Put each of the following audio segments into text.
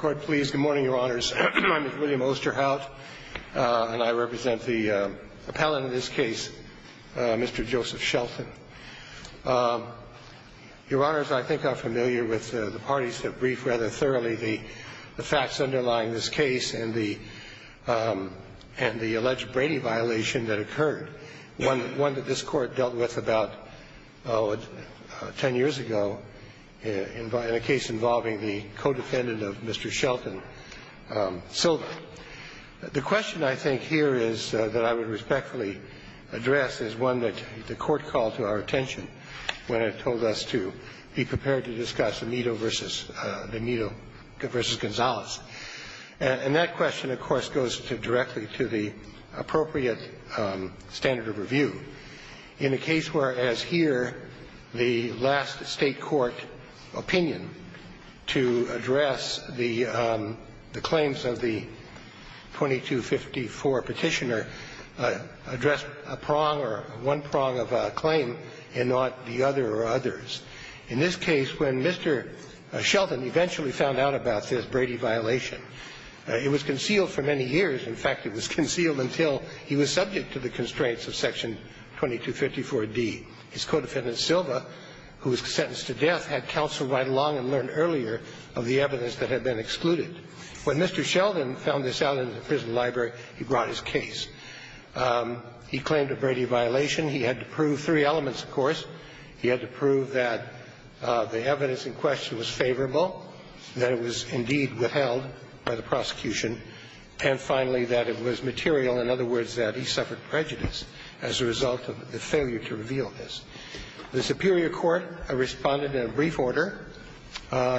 Good morning, Your Honors. I'm Mr. William Osterhaus, and I represent the appellant in this case, Mr. Joseph Shelton. Your Honors, I think I'm familiar with the parties that briefed rather thoroughly the facts underlying this case and the alleged Brady violation that occurred, one that this Court dealt with about 10 years ago in a case involving the co-defendant of Mr. Shelton, Silva. The question I think here is that I would respectfully address is one that the Court called to our attention when it told us to be prepared to discuss In a case where, as here, the last State court opinion to address the claims of the 2254 petitioner addressed a prong or one prong of a claim and not the other or others. In this case, when Mr. Shelton eventually found out about this Brady violation, it was concealed for many years. In fact, it was concealed until he was subject to the constraints of Section 2254d. His co-defendant, Silva, who was sentenced to death, had counsel ride along and learn earlier of the evidence that had been excluded. When Mr. Shelton found this out in the prison library, he brought his case. He claimed a Brady violation. He had to prove three elements, of course. He had to prove that the evidence in question was favorable, that it was indeed withheld by the prosecution. And finally, that it was material. In other words, that he suffered prejudice as a result of the failure to reveal this. The Supreme Court responded in a brief order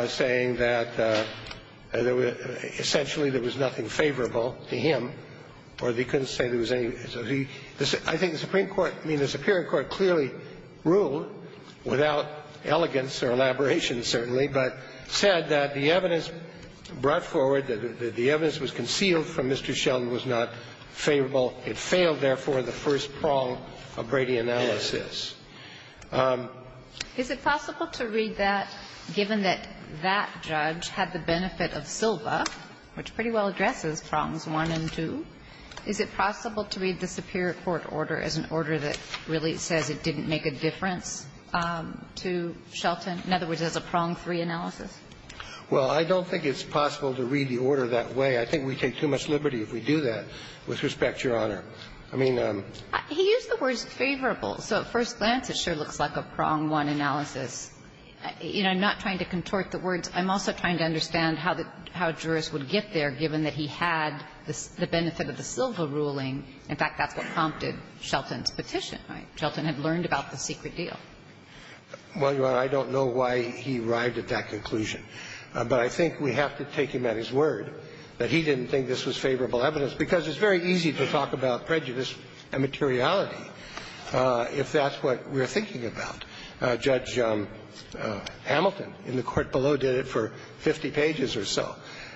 saying that essentially there was nothing favorable to him or they couldn't say there was any. I think the Supreme Court, I mean, the Supreme Court clearly ruled, without elegance or elaboration, certainly, but said that the evidence brought forward, that the evidence was concealed from Mr. Shelton was not favorable. It failed, therefore, the first prong of Brady analysis. Is it possible to read that, given that that judge had the benefit of Silva, which pretty well addresses prongs one and two? Is it possible to read the Superior Court order as an order that really says it didn't make a difference to Shelton, in other words, as a prong three analysis? Well, I don't think it's possible to read the order that way. I think we take too much liberty if we do that. With respect, Your Honor, I mean them. He used the words favorable. So at first glance, it sure looks like a prong one analysis. You know, I'm not trying to contort the words. I'm also trying to understand how a jurist would get there, given that he had the benefit of the Silva ruling. In fact, that's what prompted Shelton's petition, right? To stop the secret deal. Well, Your Honor, I don't know why he arrived at that conclusion. But I think we have to take him at his word that he didn't think this was favorable evidence, because it's very easy to talk about prejudice and materiality if that's what we're thinking about. Judge Hamilton in the court below did it for 50 pages or so.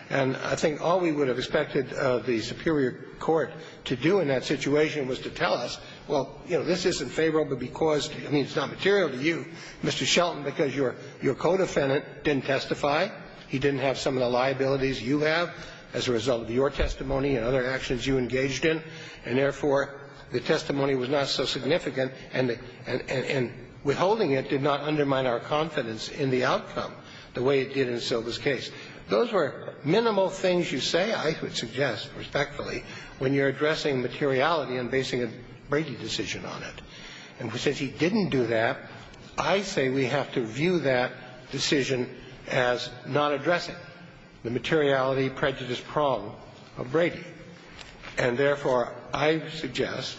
And I think all we would have expected the Superior Court to do in that situation was to tell us, well, you know, this isn't favorable because, I mean, it's not material to you, Mr. Shelton, because your co-defendant didn't testify, he didn't have some of the liabilities you have as a result of your testimony and other actions you engaged in, and therefore, the testimony was not so significant, and withholding it did not undermine our confidence in the outcome the way it did in Silva's case. Those were minimal things you say, I would suggest, respectfully, when you're addressing materiality and basing a Brady decision on it. And since he didn't do that, I say we have to view that decision as not addressing the materiality, prejudice problem of Brady. And therefore, I suggest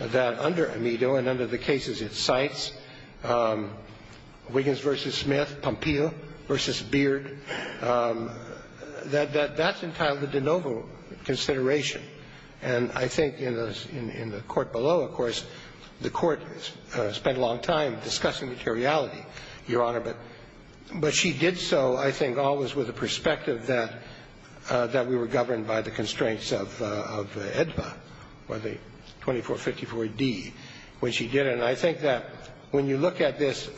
that under Amito and under the cases it cites, Wiggins v. Smith, Pompeo v. Beard, that that's entitled to de novo consideration. And I think in the court below, of course, the court spent a long time discussing materiality, Your Honor, but she did so, I think, always with the perspective that we were governed by the constraints of AEDPA, by the 2454d when she did it. And I think that when you look at this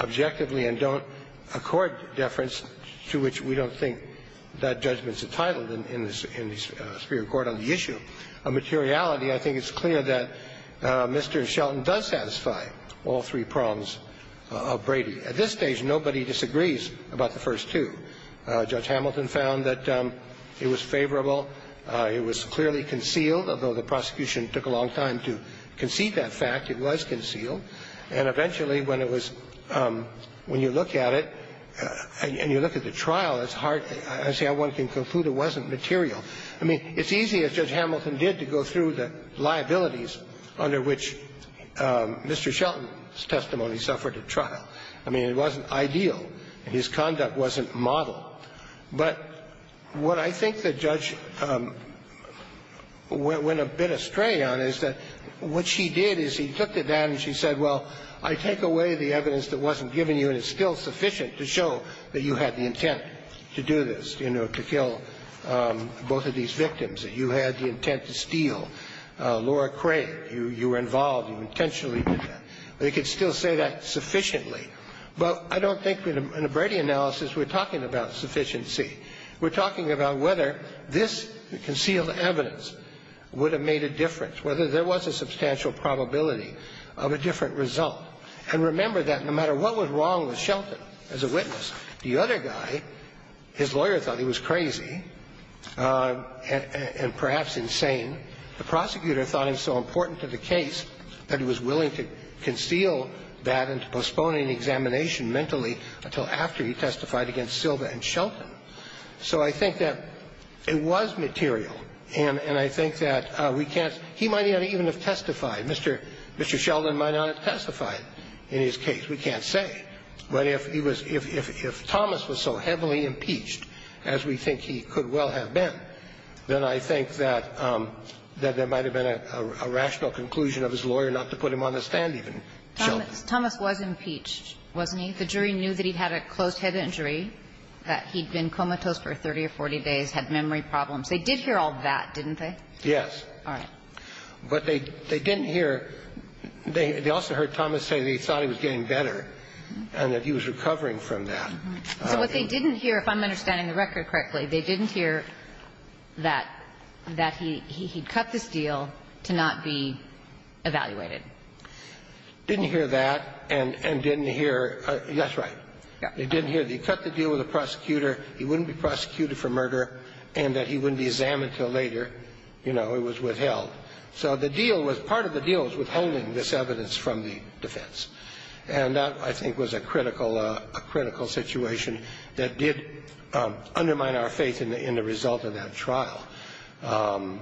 objectively and don't accord deference to which we don't think that judgment's entitled in the superior court on the issue of materiality, I think it's clear that Mr. Shelton does satisfy all three prongs of Brady. At this stage, nobody disagrees about the first two. Judge Hamilton found that it was favorable. It was clearly concealed, although the prosecution took a long time to concede that fact, it was concealed. And eventually, when it was – when you look at it and you look at the trial, it's hard – I see how one can conclude it wasn't material. I mean, it's easy, as Judge Hamilton did, to go through the liabilities under which Mr. Shelton's testimony suffered at trial. I mean, it wasn't ideal. His conduct wasn't model. But what I think the judge went a bit astray on is that what she did is he took it down and she said, well, I take away the evidence that wasn't given to you and it's still sufficient to show that you had the intent to do this, you know, to kill both of these victims, that you had the intent to steal Laura Craig, you were involved, you intentionally did that, but it could still say that sufficiently. But I don't think in a Brady analysis we're talking about sufficiency. We're talking about whether this concealed evidence would have made a difference, whether there was a substantial probability of a different result. And remember that no matter what was wrong with Shelton as a witness, the other guy, his lawyer thought he was crazy and perhaps insane. The prosecutor thought it was so important to the case that he was willing to conceal that and postpone an examination mentally until after he testified against Silva and Shelton. So I think that it was material, and I think that we can't – he might not even have testified. Mr. Shelton might not have testified in his case. We can't say. But if he was – if Thomas was so heavily impeached as we think he could well have been, then I think that there might have been a rational conclusion of his lawyer not to put him on the stand even, Shelton. Thomas was impeached, wasn't he? The jury knew that he had a closed-head injury, that he'd been comatose for 30 or 40 days, had memory problems. They did hear all that, didn't they? Yes. All right. But they didn't hear – they also heard Thomas say that he thought he was getting better and that he was recovering from that. So what they didn't hear, if I'm understanding the record correctly, they didn't hear that he'd cut this deal to not be evaluated. Didn't hear that and didn't hear – that's right. Yeah. They didn't hear that he cut the deal with the prosecutor, he wouldn't be prosecuted for murder, and that he wouldn't be examined until later, you know, it was withheld. So the deal was – part of the deal was withholding this evidence from the defense. And that, I think, was a critical – a critical situation that did undermine our faith in the result of that trial. And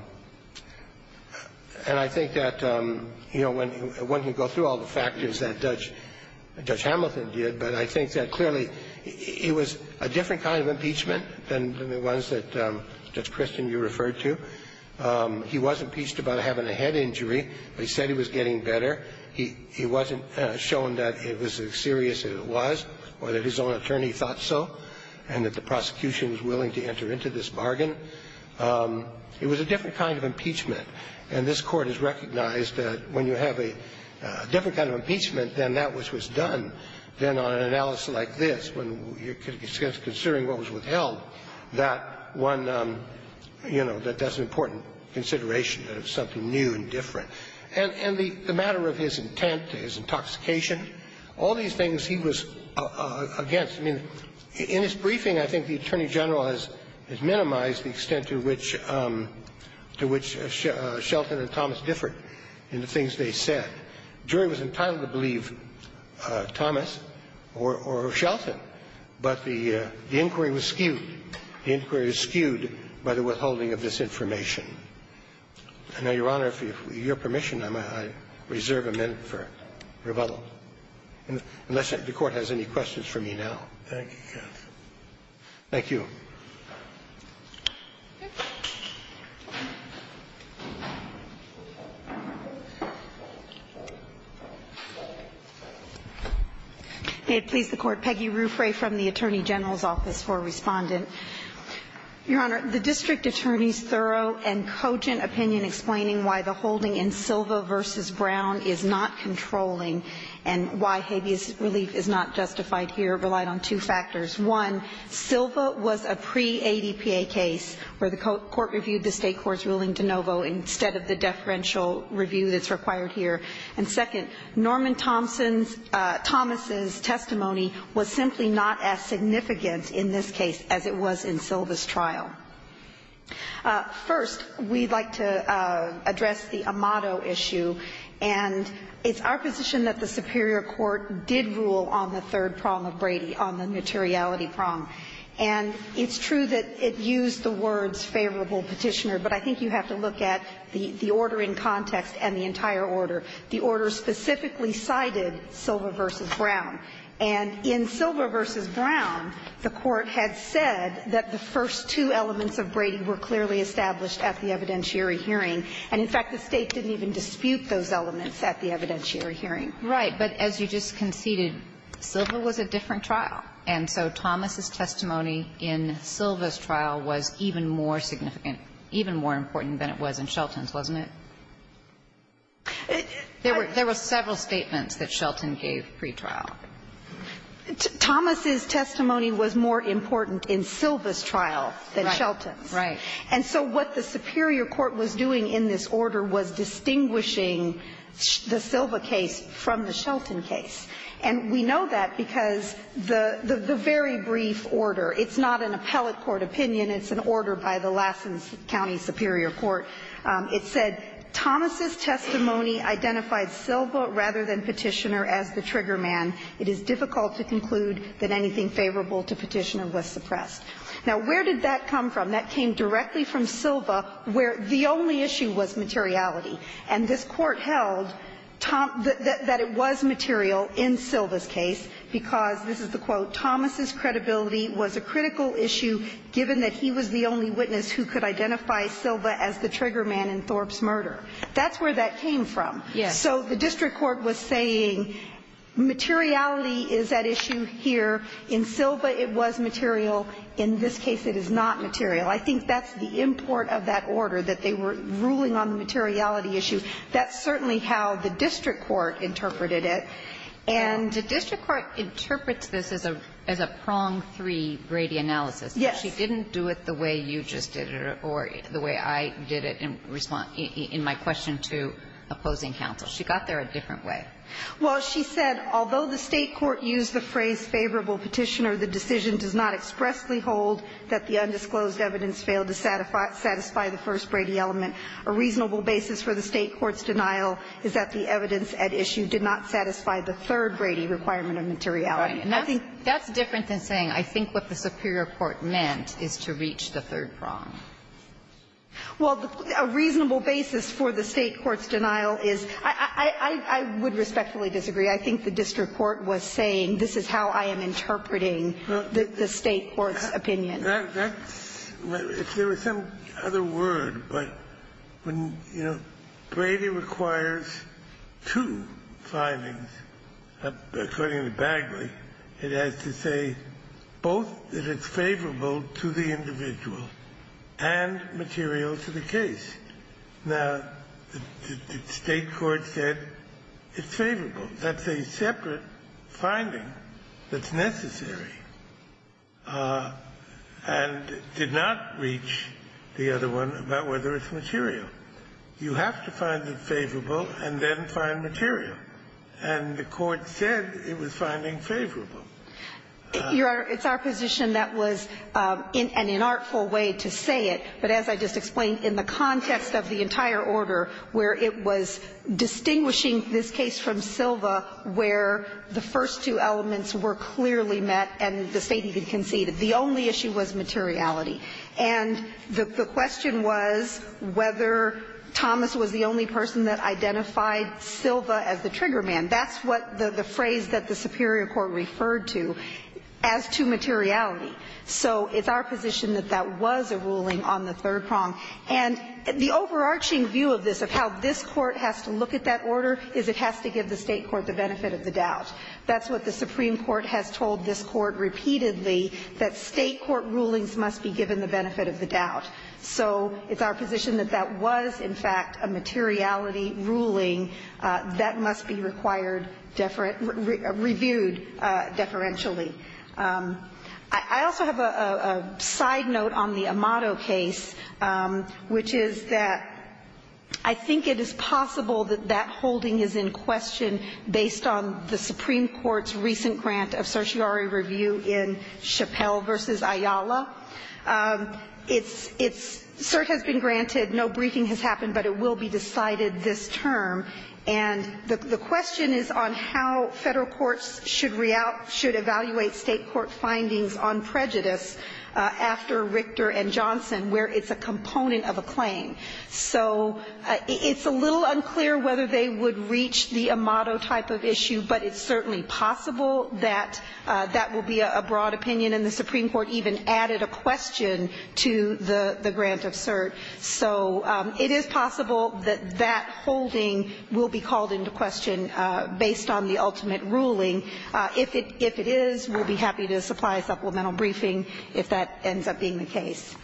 I think that, you know, one can go through all the factors that Judge Hamilton did, but I think that clearly it was a different kind of impeachment than the ones that, Judge Christian, you referred to. He was impeached about having a head injury, but he said he was getting better. He wasn't showing that it was as serious as it was or that his own attorney thought so and that the prosecution was willing to enter into this bargain. It was a different kind of impeachment. And this Court has recognized that when you have a different kind of impeachment than that which was done, then on an analysis like this, when you're considering what was withheld, that one – you know, that that's an important consideration that it's something new and different. And the matter of his intent, his intoxication, all these things he was against. I mean, in his briefing, I think the Attorney General has minimized the extent to which – to which Shelton and Thomas differed in the things they said. The jury was entitled to believe Thomas or Shelton, but the inquiry was skewed. The inquiry was skewed by the withholding of this information. I know, Your Honor, if you have permission, I reserve a minute for rebuttal, unless the Court has any questions for me now. Thank you, Your Honor. Thank you. May it please the Court. Peggy Ruffray from the Attorney General's office for a Respondent. Your Honor, the district attorney's thorough and cogent opinion explaining why the holding in Silva v. Brown is not controlling and why habeas relief is not justified here relied on two factors. One, Silva was a pre-ADPA case where the Court reviewed the State court's ruling de novo instead of the deferential review that's required here. And second, Norman Thomas's testimony was simply not as significant in this case as it was in Silva's trial. First, we'd like to address the amato issue. And it's our position that the superior court did rule on the third prong of Brady, on the materiality prong. And it's true that it used the words favorable petitioner, but I think you have to look at the order in context and the entire order. The order specifically cited Silva v. Brown. And in Silva v. Brown, the Court had said that the first two elements of Brady were clearly established at the evidentiary hearing, and in fact, the State didn't even dispute those elements at the evidentiary hearing. Right. But as you just conceded, Silva was a different trial. And so Thomas's testimony in Silva's trial was even more significant, even more important than it was in Shelton's, wasn't it? There were several statements that Shelton gave pretrial. Thomas's testimony was more important in Silva's trial than Shelton's. Right. And so what the superior court was doing in this order was distinguishing the Silva case from the Shelton case. And we know that because the very brief order, it's not an appellate court opinion, it's an order by the Lassen County Superior Court. It said Thomas's testimony identified Silva rather than Petitioner as the trigger man. It is difficult to conclude that anything favorable to Petitioner was suppressed. Now, where did that come from? That came directly from Silva, where the only issue was materiality. And this Court held that it was material in Silva's case because, this is the quote, Thomas's credibility was a critical issue given that he was the only witness who could identify Silva as the trigger man in Thorpe's murder. That's where that came from. Yes. So the district court was saying materiality is at issue here. In Silva, it was material. In this case, it is not material. I think that's the import of that order, that they were ruling on the materiality issue. That's certainly how the district court interpreted it. And the district court interprets this as a prong three Brady analysis. Yes. She didn't do it the way you just did it or the way I did it in my question to opposing counsel. She got there a different way. Well, she said, Although the State court used the phrase favorable Petitioner, the decision does not expressly hold that the undisclosed evidence failed to satisfy the first Brady element. A reasonable basis for the State court's denial is that the evidence at issue did not satisfy the third Brady requirement of materiality. And I think that's different than saying I think what the superior court meant is to reach the third prong. Well, a reasonable basis for the State court's denial is I would respectfully disagree. I think the district court was saying this is how I am interpreting the State court's opinion. That's if there was some other word. But when, you know, Brady requires two findings, according to Bagley, it has to say both that it's favorable to the individual and material to the case. Now, the State court said it's favorable. That's a separate finding that's necessary and did not reach the other one about whether it's material. You have to find it favorable and then find material. And the court said it was finding favorable. Your Honor, it's our position that was an inartful way to say it, but as I just explained, in the context of the entire order where it was distinguishing this case from Silva where the first two elements were clearly met and the State even conceded. The only issue was materiality. And the question was whether Thomas was the only person that identified Silva as the trigger man. That's what the phrase that the superior court referred to as to materiality. So it's our position that that was a ruling on the third prong. And the overarching view of this, of how this Court has to look at that order, is it has to give the State court the benefit of the doubt. That's what the Supreme Court has told this Court repeatedly, that State court rulings must be given the benefit of the doubt. So it's our position that that was, in fact, a materiality ruling that must be required deferent – reviewed deferentially. I also have a side note on the Amato case, which is that I think it is possible that that holding is in question based on the Supreme Court's recent grant of certiorari review in Chappelle v. Ayala. It's – it's – cert has been granted, no briefing has happened, but it will be decided this term. And the question is on how Federal courts should evaluate State court findings on prejudice after Richter and Johnson, where it's a component of a claim. So it's a little unclear whether they would reach the Amato type of issue, but it's certainly possible that that will be a broad opinion, and the Supreme Court even added a question to the grant of cert. So it is possible that that holding will be called into question based on the ultimate ruling. If it – if it is, we'll be happy to supply a supplemental briefing if that ends up being the case.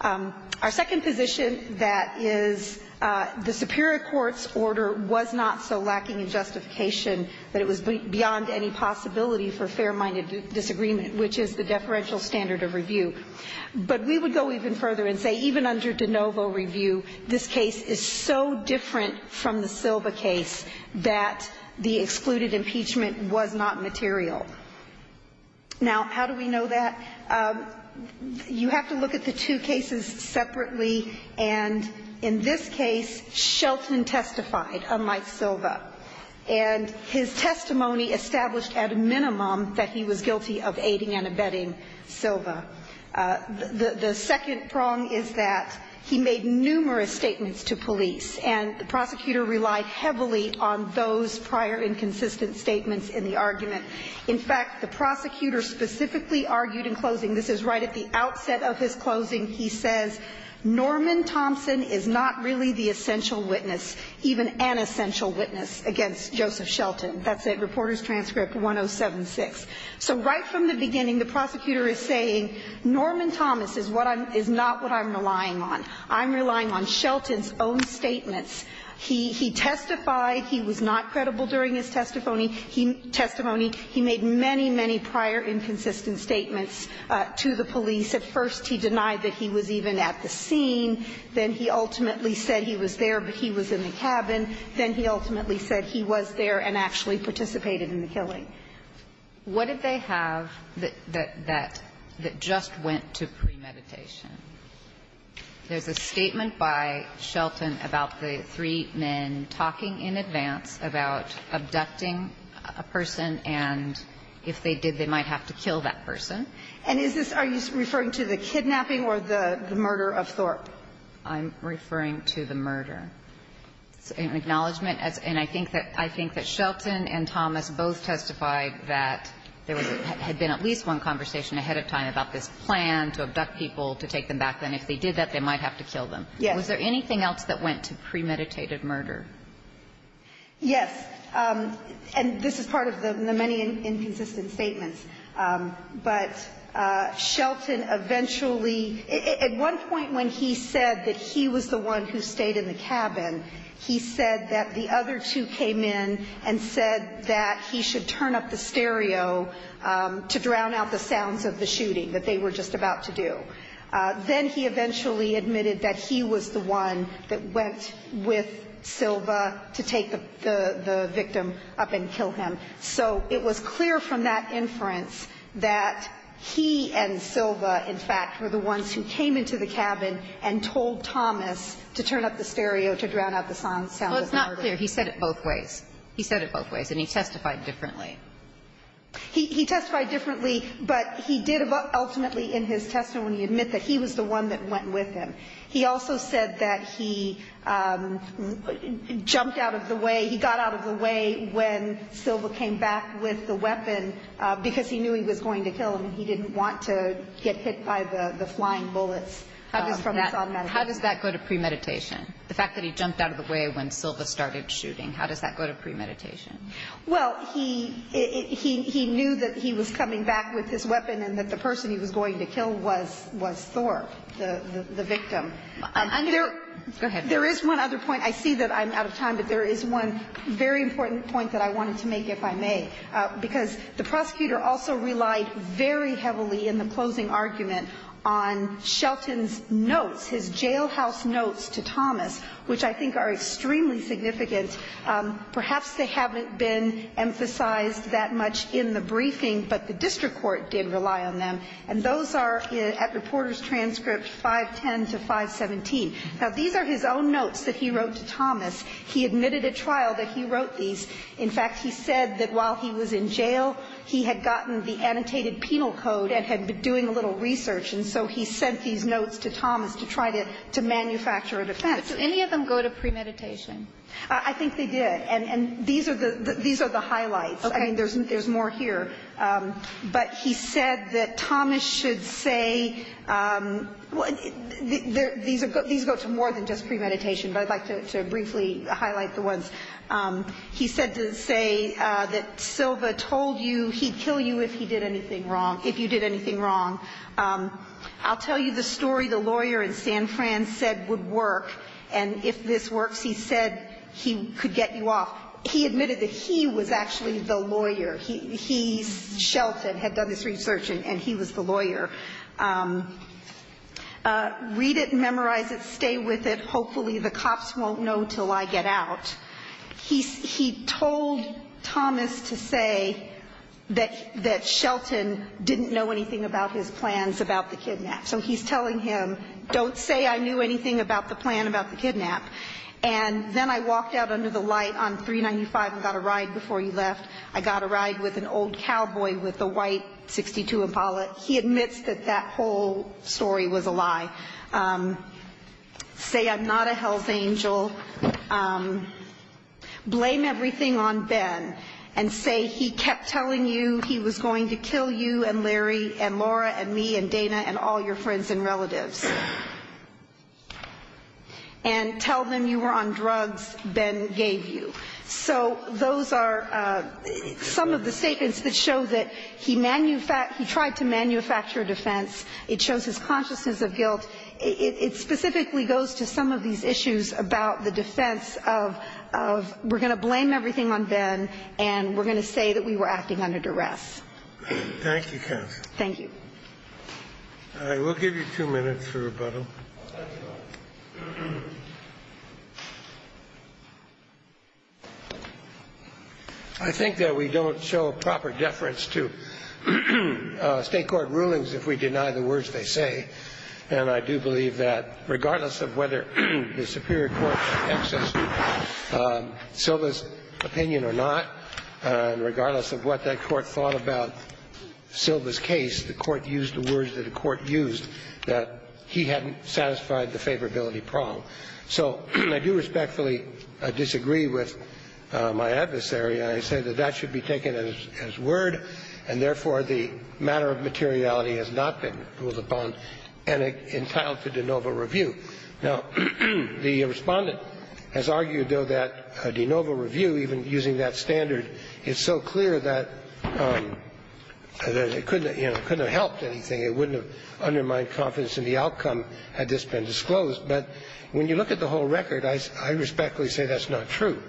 Our second position that is the superior court's order was not so lacking in justification that it was beyond any possibility for fair-minded disagreement, which is the deferential standard of review. But we would go even further and say even under de novo review, this case is so different from the Silva case that the excluded impeachment was not material. Now, how do we know that? You have to look at the two cases separately. And in this case, Shelton testified, unlike Silva. And his testimony established at a minimum that he was guilty of aiding and abetting Silva. The second prong is that he made numerous statements to police, and the prosecutor relied heavily on those prior inconsistent statements in the argument. In fact, the prosecutor specifically argued in closing – this is right at the outset of his closing – he says, Norman Thompson is not really the essential witness, even an essential witness, against Joseph Shelton. That's at Reporters' Transcript 1076. So right from the beginning, the prosecutor is saying, Norman Thomas is not what I'm relying on. I'm relying on Shelton's own statements. He testified. He was not credible during his testimony. He made many, many prior inconsistent statements to the police. At first, he denied that he was even at the scene. Then he ultimately said he was there, but he was in the cabin. Then he ultimately said he was there and actually participated in the killing. What did they have that just went to premeditation? There's a statement by Shelton about the three men talking in advance about abducting a person, and if they did, they might have to kill that person. And is this – are you referring to the kidnapping or the murder of Thorpe? I'm referring to the murder. It's an acknowledgment, and I think that Shelton and Thomas both testified that there had been at least one conversation ahead of time about this plan to abduct people, to take them back, and if they did that, they might have to kill them. Yes. Was there anything else that went to premeditated murder? Yes. And this is part of the many inconsistent statements. But Shelton eventually – at one point when he said that he was the one who stayed in the cabin, he said that the other two came in and said that he should turn up the stereo to drown out the sounds of the shooting that they were just about to do. Then he eventually admitted that he was the one that went with Silva to take the victim up and kill him. So it was clear from that inference that he and Silva, in fact, were the ones who came into the cabin and told Thomas to turn up the stereo to drown out the sounds of the murder. Well, it's not clear. He said it both ways. He said it both ways, and he testified differently. He testified differently, but he did ultimately in his testimony admit that he was the one that went with him. He also said that he jumped out of the way – he got out of the way when Silva came back with the weapon because he knew he was going to kill him and he didn't want to get hit by the flying bullets from his automatic gun. How does that go to premeditation? The fact that he jumped out of the way when Silva started shooting, how does that go to premeditation? Well, he knew that he was coming back with his weapon and that the person he was going to kill was Thor, the victim. Go ahead. There is one other point. I see that I'm out of time, but there is one very important point that I wanted to make, if I may, because the prosecutor also relied very heavily in the closing argument on Shelton's notes, his jailhouse notes to Thomas, which I think are extremely significant. Perhaps they haven't been emphasized that much in the briefing, but the district court did rely on them, and those are at reporter's transcript 510 to 517. Now, these are his own notes that he wrote to Thomas. He admitted at trial that he wrote these. In fact, he said that while he was in jail, he had gotten the annotated penal code and had been doing a little research, and so he sent these notes to Thomas to try to manufacture an offense. Did any of them go to premeditation? I think they did. And these are the highlights. Okay. I mean, there's more here. But he said that Thomas should say these go to more than just premeditation, but I'd like to briefly highlight the ones. He said to say that Silva told you he'd kill you if he did anything wrong, if you did anything wrong. I'll tell you the story the lawyer in San Fran said would work, and if this works, he said he could get you off. He admitted that he was actually the lawyer. He's Shelton, had done this research, and he was the lawyer. Read it, memorize it, stay with it. Hopefully the cops won't know until I get out. He told Thomas to say that Shelton didn't know anything about his plans about the kidnap. So he's telling him, don't say I knew anything about the plan about the kidnap. And then I walked out under the light on 395 and got a ride before he left. I got a ride with an old cowboy with a white 62 Impala. He admits that that whole story was a lie. Say I'm not a health angel. Blame everything on Ben and say he kept telling you he was going to kill you and Larry and Laura and me and Dana and all your friends and relatives. And tell them you were on drugs Ben gave you. So those are some of the statements that show that he tried to manufacture a defense. It shows his consciousness of guilt. It specifically goes to some of these issues about the defense of we're going to blame everything on Ben and we're going to say that we were acting under duress. Thank you, counsel. Thank you. I will give you two minutes for rebuttal. I think that we don't show a proper deference to state court rulings if we deny the words they say. And I do believe that regardless of whether the superior court accepts Silva's opinion or not, regardless of what that court thought about Silva's case, the court used the words that the court used, that he hadn't satisfied the favorability prong. So I do respectfully disagree with my adversary. I say that that should be taken as word and, therefore, the matter of materiality has not been ruled upon and entitled to de novo review. Now, the Respondent has argued, though, that de novo review, even using that standard, is so clear that it couldn't have helped anything. It wouldn't have undermined confidence in the outcome had this been disclosed. But when you look at the whole record, I respectfully say that's not true.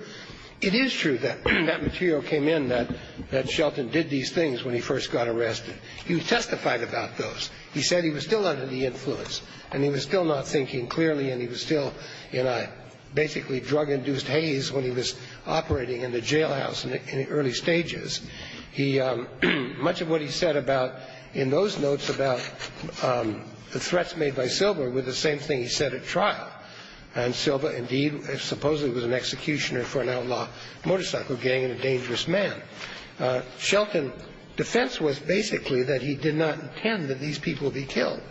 It is true that that material came in that Shelton did these things when he first got arrested. He testified about those. He said he was still under the influence and he was still not thinking clearly and he was still in a basically drug-induced haze when he was operating in the jailhouse in the early stages. He – much of what he said about – in those notes about the threats made by Silva were the same thing he said at trial. And Silva, indeed, supposedly was an executioner for an outlaw motorcycle gang and a dangerous man. Shelton's defense was basically that he did not intend that these people be killed.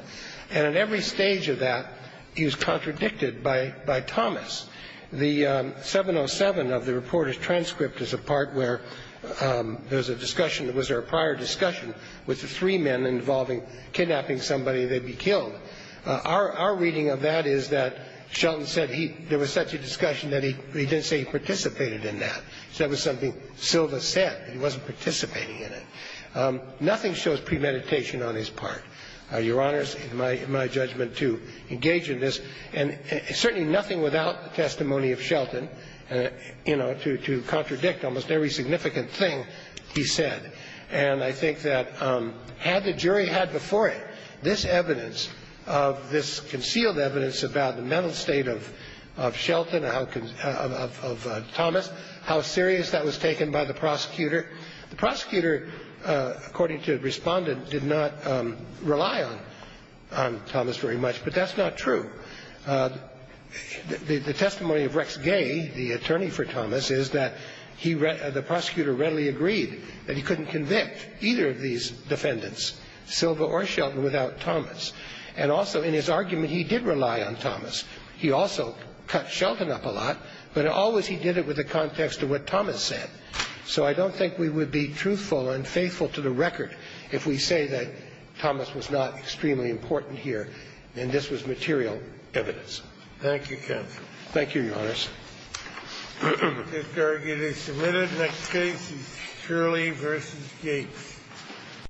And at every stage of that, he was contradicted by Thomas. The 707 of the reporter's transcript is a part where there's a discussion that was there a prior discussion with the three men involving kidnapping somebody they'd be killed. Our reading of that is that Shelton said he – there was such a discussion that he didn't say he participated in that. He said it was something Silva said. He wasn't participating in it. Nothing shows premeditation on his part. Your Honor, it's my judgment to engage in this. And certainly nothing without the testimony of Shelton, you know, to contradict almost every significant thing he said. And I think that had the jury had before it this evidence of – this concealed evidence about the mental state of Shelton or how – of Thomas, how serious that was taken by the prosecutor, the prosecutor, according to the Respondent, did not rely on Thomas very much. But that's not true. The testimony of Rex Gay, the attorney for Thomas, is that he – the prosecutor readily agreed that he couldn't convict either of these defendants, Silva or Shelton, without Thomas. And also in his argument, he did rely on Thomas. He also cut Shelton up a lot, but always he did it with the context of what Thomas So I don't think we would be truthful and faithful to the record if we say that Thomas was not extremely important here and this was material evidence. Thank you, counsel. Thank you, Your Honors. This argument is submitted. The next case is Shirley v. Gates.